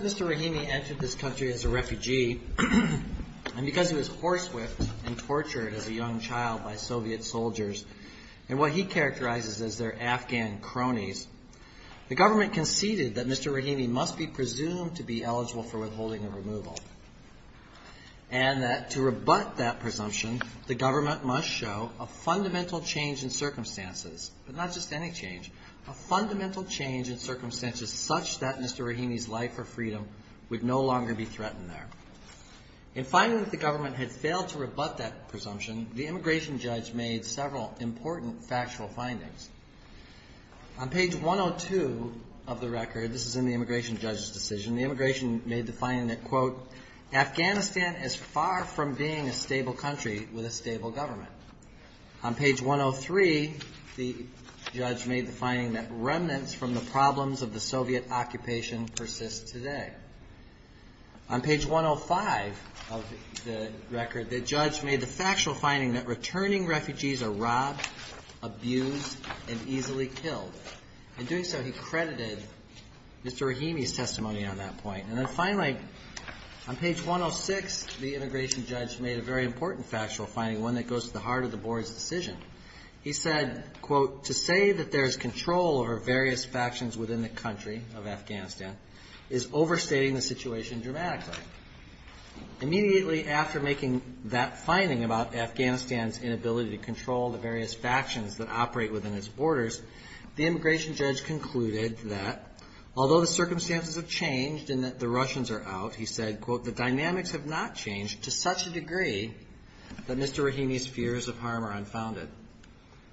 Mr. Rahimi entered this country as a refugee, and because he was horsewhipped and tortured as a young child by Soviet soldiers, and what he characterizes as their Afghan cronies, the government conceded that Mr. Rahimi must be presumed to be eligible for withholding and removal, and that to rebut that presumption, the government must show a fundamental change in circumstances, but not just any change, a fundamental change in circumstances such that Mr. Rahimi's life or freedom would no longer be threatened there. In finding that the government had failed to rebut that presumption, the immigration judge made several important factual findings. On page 102 of the record, this is in the immigration judge's decision, the immigration made the finding that, quote, Afghanistan is far from being a stable country with a stable government. On page 103, the judge made the finding that remnants from the problems of the Soviet occupation persist today. On page 105 of the record, the judge made the factual finding that returning refugees are robbed, abused, and easily killed. In doing so, he credited Mr. Rahimi's testimony on that point. And then, finally, on page 106, the immigration judge made a very important factual finding, one that goes to the heart of the board's decision. He said, quote, to say that there is control over various factions within the country of Afghanistan is overstatement. Overstating the situation dramatically. Immediately after making that finding about Afghanistan's inability to control the various factions that operate within its borders, the immigration judge concluded that, although the circumstances have changed and that the Russians are out, he said, quote, the dynamics have not changed to such a degree that Mr. Rahimi's fears of harm are unfounded.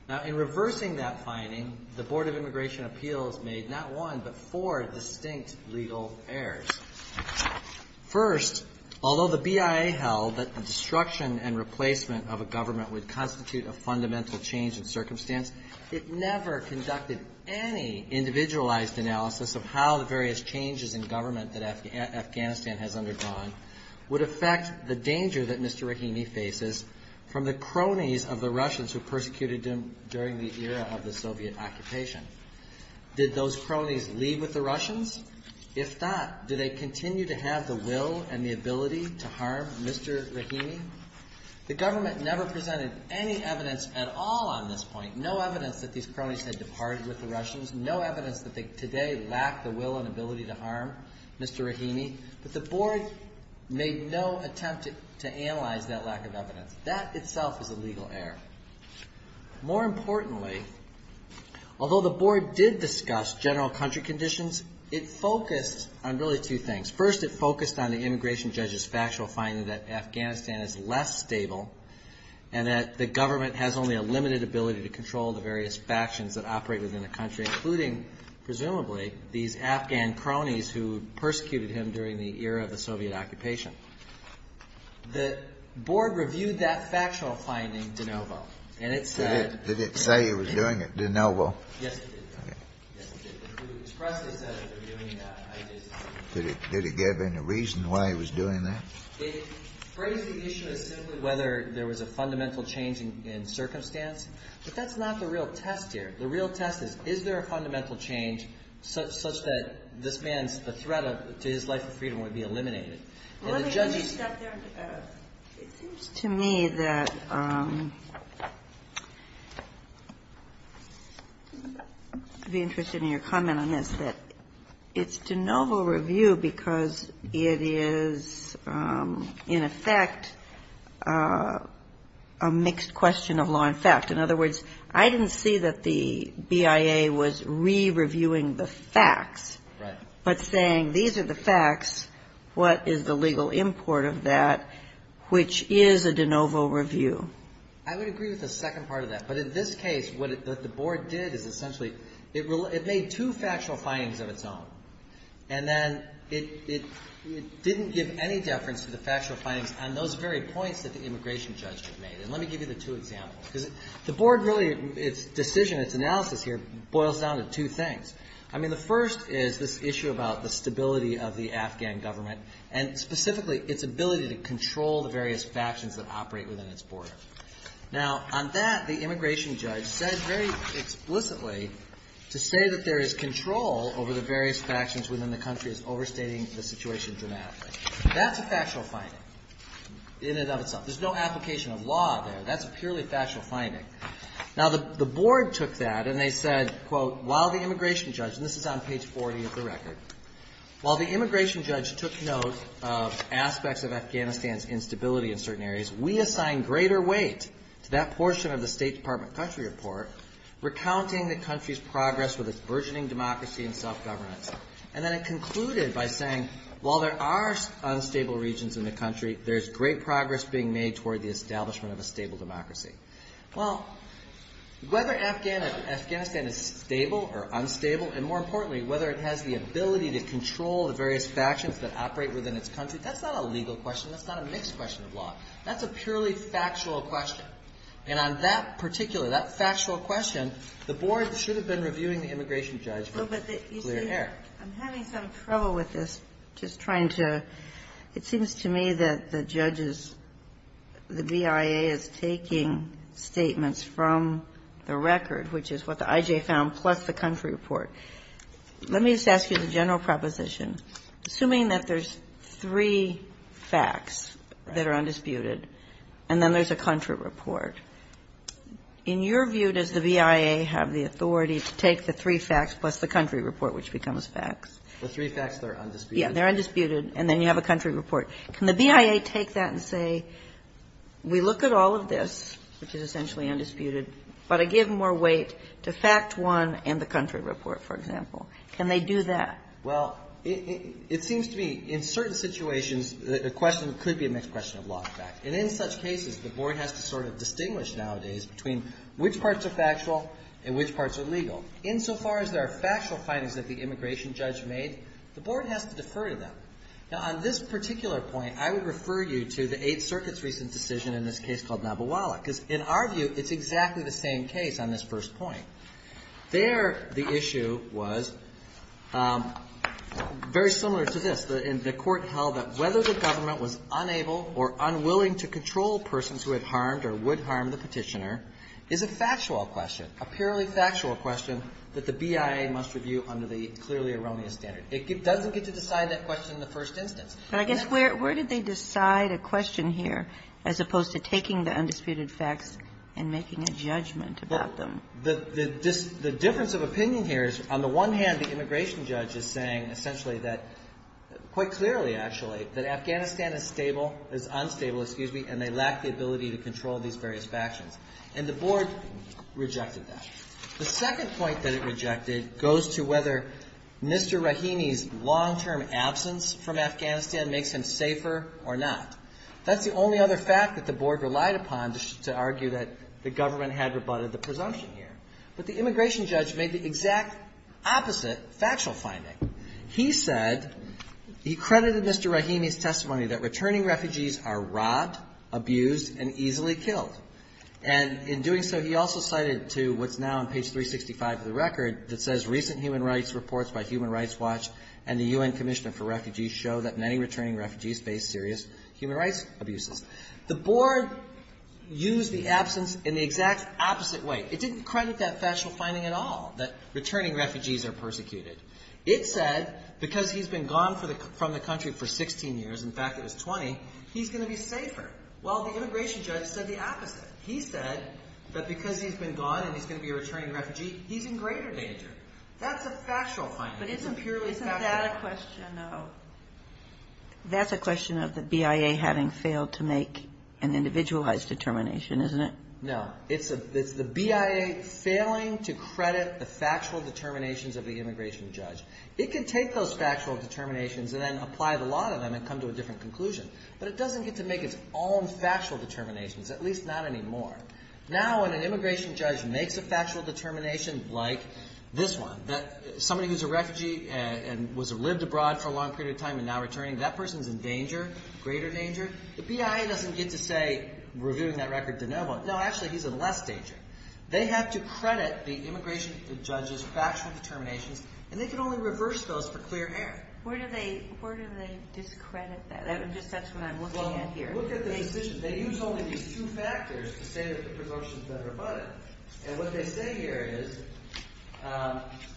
Now, in reversing that finding, the Board of Immigration Appeals made not one but four distinct legal errors. First, although the BIA held that the destruction and replacement of a government would constitute a fundamental change in circumstance, it never conducted any individualized analysis of how the various changes in government that Afghanistan has undergone would affect the danger that Mr. Rahimi faces from the cronies of the Russians who persecuted him during the era of the Soviet occupation. Did those cronies leave with the Russians? If not, do they continue to have the will and the ability to harm Mr. Rahimi? The government never presented any evidence at all on this point, no evidence that these cronies had departed with the Russians, no evidence that they today lack the will and ability to harm Mr. Rahimi, but the board made no attempt to analyze that lack of evidence. That itself is a legal error. More importantly, although the board did discuss general country conditions, it focused on really two things. First, it focused on the immigration judge's factual finding that Afghanistan is less stable and that the government has only a limited ability to control the various factions that operate within the country, including, presumably, these Afghan cronies who persecuted him during the era of the Soviet occupation. The board reviewed that factual finding de novo, and it said that he was doing it de novo. Did it give any reason why he was doing that? It phrased the issue as simply whether there was a fundamental change in circumstance, but that's not the real test here. The real test is, is there a fundamental change such that this man's threat to his life of freedom would be eliminated? It seems to me that I'd be interested in your comment on this, that it's de novo review because it is, in effect, a mixed question of law and fact. In other words, I didn't see that the BIA was re-reviewing the facts, but saying these are the facts. What is the legal import of that, which is a de novo review? I would agree with the second part of that. But in this case, what the board did is essentially it made two factual findings of its own, and then it didn't give any deference to the factual findings on those very points that the immigration judge had made. And let me give you the two examples. Because the board really, its decision, its analysis here boils down to two things. I mean, the first is this issue about the stability of the Afghan government, and specifically its ability to control the various factions that operate within its border. Now, on that, the immigration judge said very explicitly to say that there is control over the various factions within the country is overstating the situation dramatically. That's a factual finding in and of itself. There's no application of law there. That's a purely factual finding. Now, the board took that, and they said, quote, while the immigration judge, and this is on page 40 of the record, while the immigration judge took note of aspects of Afghanistan's instability in certain areas, we assign greater weight to that portion of the State Department country report recounting the country's progress with its burgeoning democracy and self-governance. And then it concluded by saying, while there are unstable regions in the country, there's great progress being made toward the establishment of a stable democracy. Well, whether Afghanistan is stable or unstable, and more importantly, whether it has the ability to control the various factions that operate within its country, that's not a legal question. That's not a mixed question of law. That's a purely factual question. And on that particular, that factual question, the board should have been reviewing the immigration judge with clear air. I'm having some trouble with this, just trying to – it seems to me that the judge is – the BIA is taking statements from the record, which is what the I.J. found, plus the country report. Let me just ask you the general proposition. Assuming that there's three facts that are undisputed, and then there's a country report, in your view, does the BIA have the authority to take the three facts plus the country report, which becomes facts? The three facts that are undisputed. Yeah, they're undisputed, and then you have a country report. Can the BIA take that and say, we look at all of this, which is essentially undisputed, but I give more weight to fact one and the country report, for example? Can they do that? Well, it seems to me, in certain situations, the question could be a mixed question of law and fact. And in such cases, the board has to sort of distinguish nowadays between which parts are factual and which parts are legal. Insofar as there are factual findings that the immigration judge made, the board has to defer to them. Now, on this particular point, I would refer you to the Eighth Circuit's recent decision in this case called Nabowala, because in our view, it's exactly the same case on this first point. There, the issue was very similar to this. The court held that whether the government was unable or unwilling to control persons who had harmed or would harm the petitioner is a factual question, a purely factual question that the BIA must review under the clearly erroneous standard. It doesn't get to decide that question in the first instance. But I guess where did they decide a question here as opposed to taking the undisputed facts and making a judgment about them? The difference of opinion here is, on the one hand, the immigration judge is saying essentially that, quite clearly, actually, that Afghanistan is stable, is unstable, excuse me, and they lack the ability to control these various factions. And the board rejected that. The second point that it rejected goes to whether Mr. Rahimi's long-term absence from Afghanistan makes him safer or not. That's the only other fact that the board relied upon to argue that the government had rebutted the presumption here. But the immigration judge made the exact opposite factual finding. He said, he credited Mr. Rahimi's testimony that returning refugees are robbed, abused, and easily killed. And in doing so, he also cited to what's now on page 365 of the record that says, recent human rights reports by Human Rights Watch and the U.N. Commission for Refugees show that many returning refugees face serious human rights abuses. The board used the absence in the exact opposite way. It didn't credit that factual finding at all, that returning refugees are persecuted. It said, because he's been gone from the country for 16 years, in fact, it was 20, he's going to be safer. Well, the immigration judge said the opposite. He said that because he's been gone and he's going to be a returning refugee, he's in greater danger. That's a factual finding. It's a purely factual finding. Isn't that a question of the BIA having failed to make an individualized determination, isn't it? No. It's the BIA failing to credit the factual determinations of the immigration judge. It can take those factual determinations and then apply the law to them and come to a different conclusion. But it doesn't get to make its own factual determinations, at least not anymore. Now, when an immigration judge makes a factual determination like this one, that somebody who's a refugee and was lived abroad for a long period of time and now returning, that person's in danger, greater danger. The BIA doesn't get to say, we're doing that record de novo. No, actually, he's in less danger. They have to credit the immigration judge's factual determinations, and they can only reverse those for clear air. Where do they discredit that? That's just what I'm looking at here. Well, look at the decision. They use only these two factors to say that the presumption's better but. And what they say here is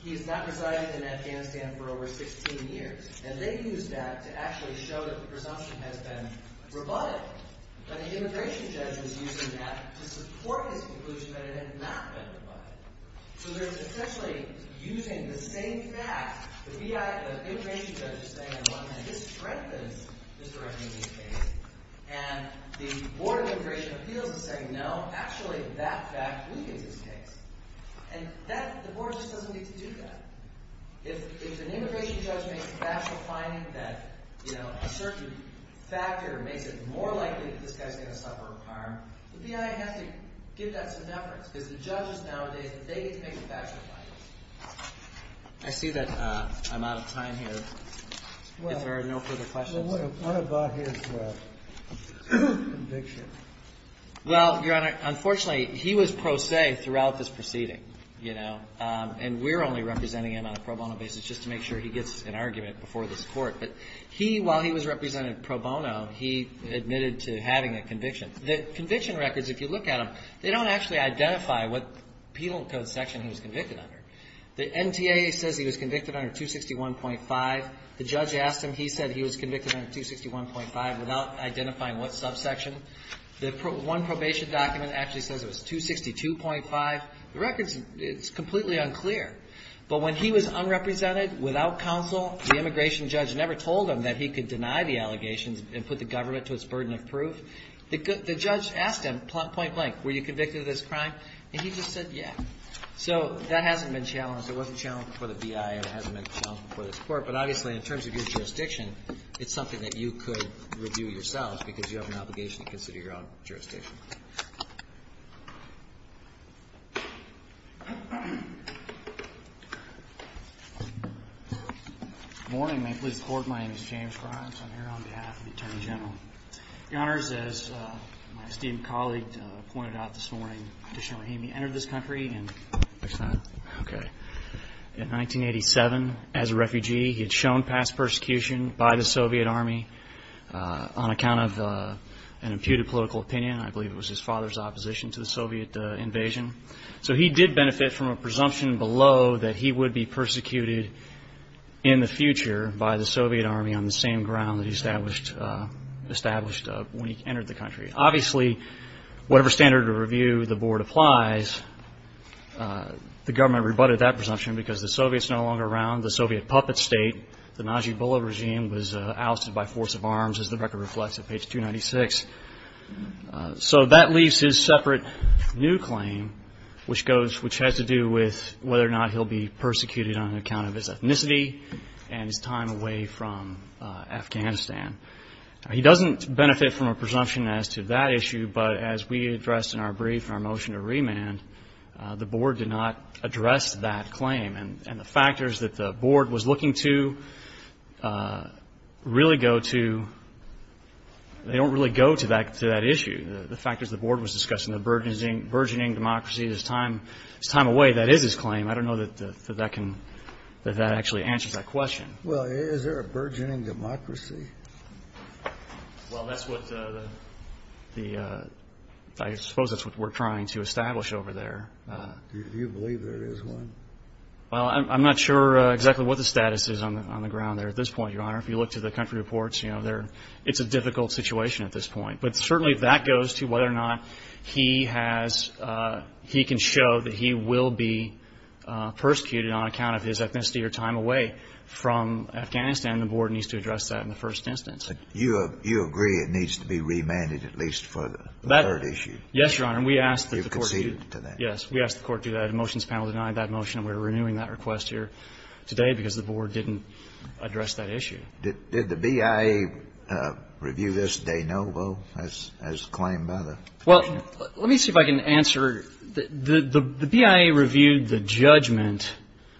he's not residing in Afghanistan for over 16 years. And they use that to actually show that the presumption has been rebutted. But the immigration judge is using that to support his conclusion that it had not been rebutted. So they're essentially using the same fact. The BIA, the immigration judge is saying, well, this strengthens this direction of this case. And the Board of Immigration Appeals is saying, no, actually, that fact weakens this case. And that – the board just doesn't get to do that. If an immigration judge makes a factual finding that a certain factor makes it more likely that this guy's going to suffer harm, the BIA has to give that some deference because the judges nowadays, they get to make the factual findings. I see that I'm out of time here. If there are no further questions. Well, what about his conviction? Well, Your Honor, unfortunately, he was pro se throughout this proceeding. And we're only representing him on a pro bono basis just to make sure he gets an argument before this Court. But he, while he was represented pro bono, he admitted to having a conviction. The conviction records, if you look at them, they don't actually identify what penal code section he was convicted under. The NTA says he was convicted under 261.5. The judge asked him. He said he was convicted under 261.5 without identifying what subsection. The one probation document actually says it was 262.5. The records, it's completely unclear. But when he was unrepresented without counsel, the immigration judge never told him that he could deny the allegations and put the government to its burden of proof. The judge asked him, point blank, were you convicted of this crime? And he just said, yeah. So that hasn't been challenged. It wasn't challenged before the BIA. It hasn't been challenged before this Court. But obviously, in terms of your jurisdiction, it's something that you could review yourself because you have an obligation to consider your own jurisdiction. Thank you. Good morning. May it please the Court. My name is James Grimes. I'm here on behalf of the Attorney General. Your Honors, as my esteemed colleague pointed out this morning, Additionally, he entered this country in 1987 as a refugee. He had shown past persecution by the Soviet Army on account of an imputed political opinion. I believe it was his father's opposition to the Soviet invasion. So he did benefit from a presumption below that he would be persecuted in the future by the Soviet Army on the same ground that he established when he entered the country. Obviously, whatever standard of review the Board applies, the government rebutted that presumption because the Soviets are no longer around. The Soviet puppet state, the Najibullah regime, was ousted by force of arms, as the record reflects at page 296. So that leaves his separate new claim, which has to do with whether or not he'll be persecuted on account of his ethnicity and his time away from Afghanistan. He doesn't benefit from a presumption as to that issue, but as we addressed in our brief in our motion to remand, the Board did not address that claim. And the factors that the Board was looking to really go to, they don't really go to that issue. The factors the Board was discussing, the burgeoning democracy, his time away, that is his claim. I don't know that that can, that that actually answers that question. Well, is there a burgeoning democracy? Well, that's what the, I suppose that's what we're trying to establish over there. Do you believe there is one? Well, I'm not sure exactly what the status is on the ground there at this point, Your Honor. If you look to the country reports, you know, there, it's a difficult situation at this point. But certainly that goes to whether or not he has, he can show that he will be persecuted on account of his ethnicity or time away from Afghanistan. The Board needs to address that in the first instance. You agree it needs to be remanded at least for the third issue? Yes, Your Honor. And we ask that the Court do. Yes, we ask the Court do that. The motions panel denied that motion. We're renewing that request here today because the Board didn't address that issue. Did the BIA review this de novo as claimed by the motion? Well, let me see if I can answer. The BIA reviewed the judgment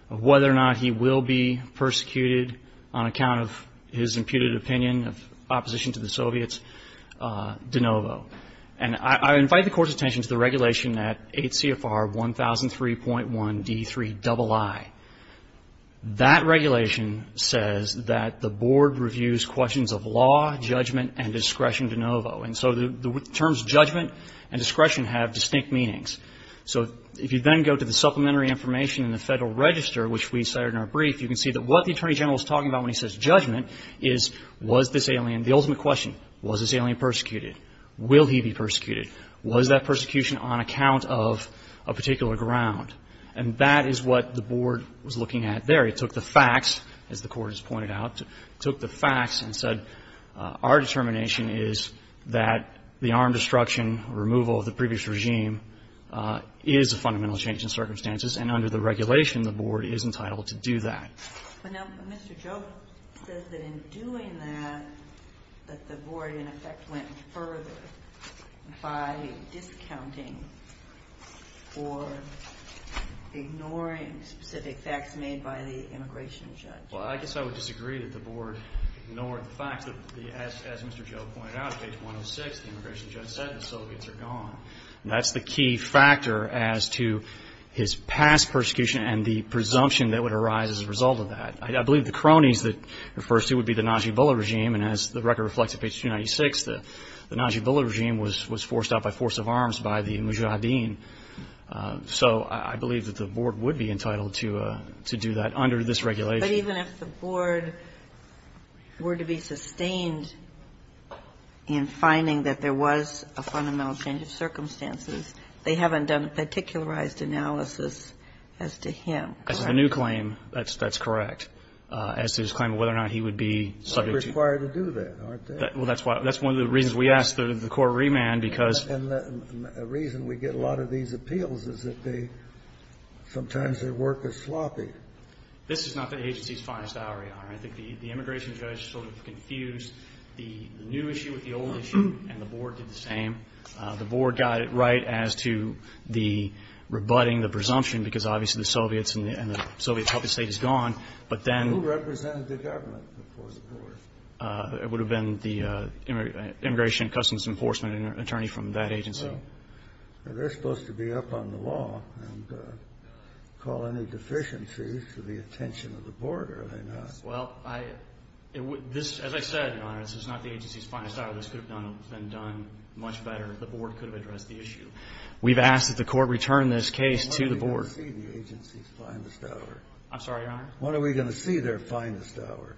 of whether or not he will be persecuted on account of his imputed opinion of opposition to the Soviets de novo. And I invite the Court's attention to the regulation at 8 CFR 1003.1 D3 III. That regulation says that the Board reviews questions of law, judgment, and discretion de novo. And so the terms judgment and discretion have distinct meanings. So if you then go to the supplementary information in the Federal Register, which we cited in our brief, you can see that what the Attorney General is talking about when he says judgment is was this alien, the ultimate question, was this alien persecuted? Will he be persecuted? Was that persecution on account of a particular ground? And that is what the Board was looking at there. It took the facts, as the Court has pointed out, took the facts and said our determination is that the armed destruction removal of the previous regime is a fundamental change in circumstances, and under the regulation, the Board is entitled to do that. But now Mr. Joe says that in doing that, that the Board, in effect, went further by discounting or ignoring specific facts made by the immigration judge. Well, I guess I would disagree that the Board ignored the facts. As Mr. Joe pointed out, page 106, the immigration judge said the Soviets are gone. That's the key factor as to his past persecution and the presumption that would arise as a result of that. I believe the cronies that he refers to would be the Najibullah regime, and as the record reflects in page 296, the Najibullah regime was forced out by force of arms by the Mujahideen. So I believe that the Board would be entitled to do that under this regulation. But even if the Board were to be sustained in finding that there was a fundamental change in circumstances, they haven't done a particularized analysis as to him. As to the new claim, that's correct. As to his claim of whether or not he would be subject to it. They're required to do that, aren't they? Well, that's one of the reasons we asked the court to remand, because the reason we get a lot of these appeals is that they sometimes their work is sloppy. This is not the agency's finest hour, Your Honor. I think the immigration judge sort of confused the new issue with the old issue, and the Board did the same. The Board got it right as to the rebutting, the presumption, because obviously the Soviets and the Soviet public state is gone. But then the ---- Who represented the government before the Board? It would have been the Immigration and Customs Enforcement attorney from that agency. Well, they're supposed to be up on the law and call any deficiencies to the attention of the Board, are they not? Well, I ---- As I said, Your Honor, this is not the agency's finest hour. This could have been done much better. The Board could have addressed the issue. We've asked that the court return this case to the Board. When are we going to see the agency's finest hour? I'm sorry, Your Honor? When are we going to see their finest hour?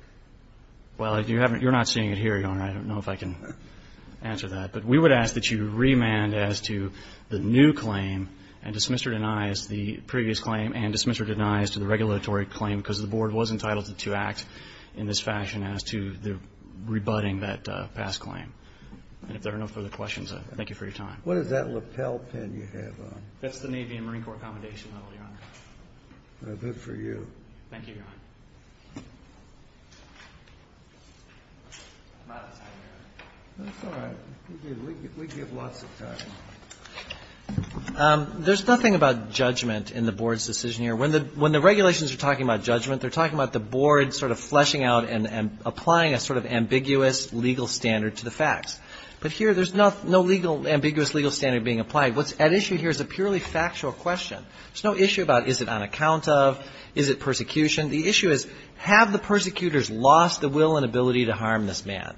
Well, you're not seeing it here, Your Honor. I don't know if I can answer that. But we would ask that you remand as to the new claim and dismiss or deny as to the previous claim and dismiss or deny as to the regulatory claim, because the Board was entitled to act in this fashion as to the rebutting that past claim. And if there are no further questions, thank you for your time. What is that lapel pin you have on? That's the Navy and Marine Corps accommodation level, Your Honor. Well, good for you. Thank you, Your Honor. I'm out of time, Your Honor. That's all right. We give lots of time. There's nothing about judgment in the Board's decision here. When the regulations are talking about judgment, they're talking about the Board sort of fleshing out and applying a sort of ambiguous legal standard to the facts. But here there's no ambiguous legal standard being applied. What's at issue here is a purely factual question. There's no issue about is it on account of, is it persecution. The issue is have the persecutors lost the will and ability to harm this man.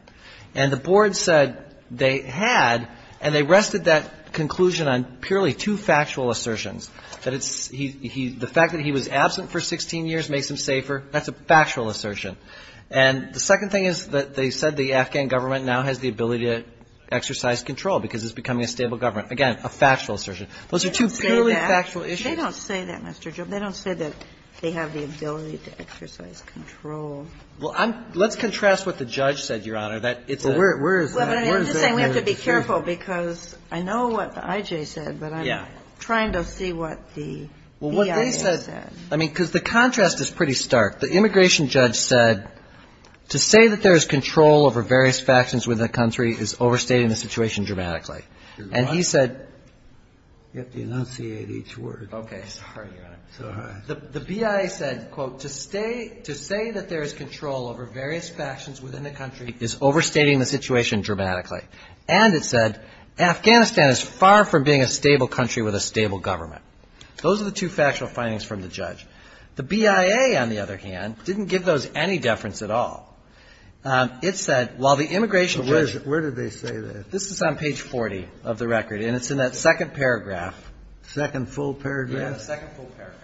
And the Board said they had, and they rested that conclusion on purely two factual assertions, that it's he, the fact that he was absent for 16 years makes him safer. That's a factual assertion. And the second thing is that they said the Afghan government now has the ability to exercise control because it's becoming a stable government. Again, a factual assertion. Those are two purely factual issues. They don't say that, Mr. Jones. They don't say that they have the ability to exercise control. Well, I'm, let's contrast what the judge said, Your Honor, that it's a. Well, where is that? Well, but I'm just saying we have to be careful because I know what the IJ said. Yeah. Trying to see what the BIA said. Well, what they said, I mean, because the contrast is pretty stark. The immigration judge said to say that there is control over various factions within the country is overstating the situation dramatically. And he said. You have to enunciate each word. Okay. Sorry, Your Honor. Sorry. The BIA said, quote, to stay, to say that there is control over various factions within the country is overstating the situation dramatically. And it said, Afghanistan is far from being a stable country with a stable government. Those are the two factual findings from the judge. The BIA, on the other hand, didn't give those any deference at all. It said, while the immigration judge. Where did they say that? This is on page 40 of the record, and it's in that second paragraph. Second full paragraph? Yeah, the second full paragraph.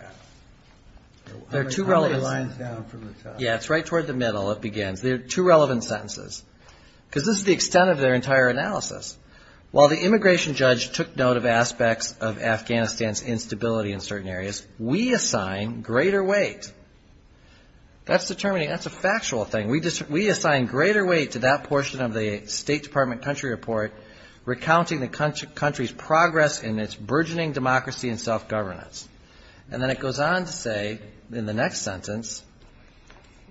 There are two relevant. How many lines down from the top? Yeah, it's right toward the middle, it begins. There are two relevant sentences. Because this is the extent of their entire analysis. While the immigration judge took note of aspects of Afghanistan's instability in certain areas, we assign greater weight. That's determining. That's a factual thing. We assign greater weight to that portion of the State Department country report, recounting the country's progress in its burgeoning democracy and self-governance. And then it goes on to say, in the next sentence,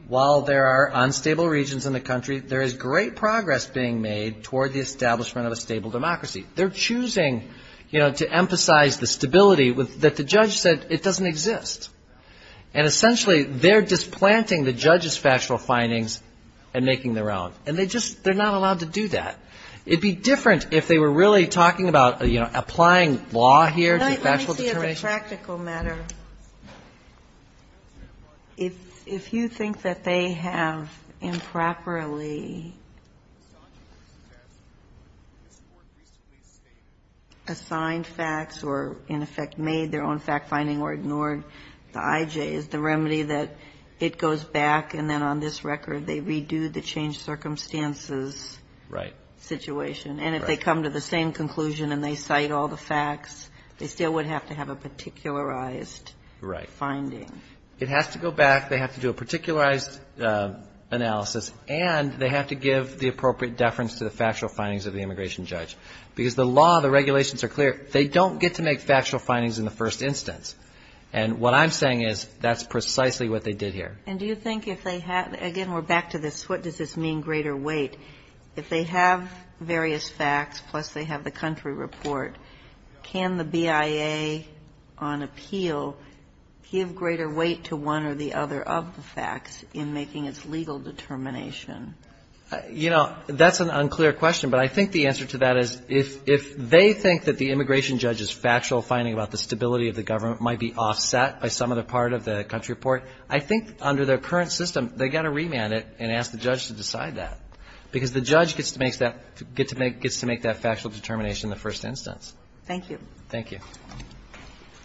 while there are unstable regions in the country, there is great progress being made toward the establishment of a stable democracy. They're choosing, you know, to emphasize the stability that the judge said it doesn't exist. And essentially, they're displanting the judge's factual findings and making their own. And they just they're not allowed to do that. It would be different if they were really talking about, you know, applying law here to factual determination. Ginsburg. In a practical matter, if you think that they have improperly assigned facts or, in effect, made their own fact-finding or ignored the IJs, the remedy that it goes back and then on this record they redo the changed circumstances. Right. Situation. And if they come to the same conclusion and they cite all the facts, they still would have to have a particularized finding. Right. It has to go back. They have to do a particularized analysis. And they have to give the appropriate deference to the factual findings of the immigration judge. Because the law, the regulations are clear. They don't get to make factual findings in the first instance. And what I'm saying is, that's precisely what they did here. And do you think if they had, again, we're back to this, what does this mean, greater weight? If they have various facts, plus they have the country report, can the BIA on appeal give greater weight to one or the other of the facts in making its legal determination? You know, that's an unclear question. But I think the answer to that is if they think that the immigration judge's factual finding about the stability of the government might be offset by some other part of the country report, I think under their current system they've got to remand it and ask the judge to decide that. Because the judge gets to make that factual determination in the first instance. Thank you. Thank you.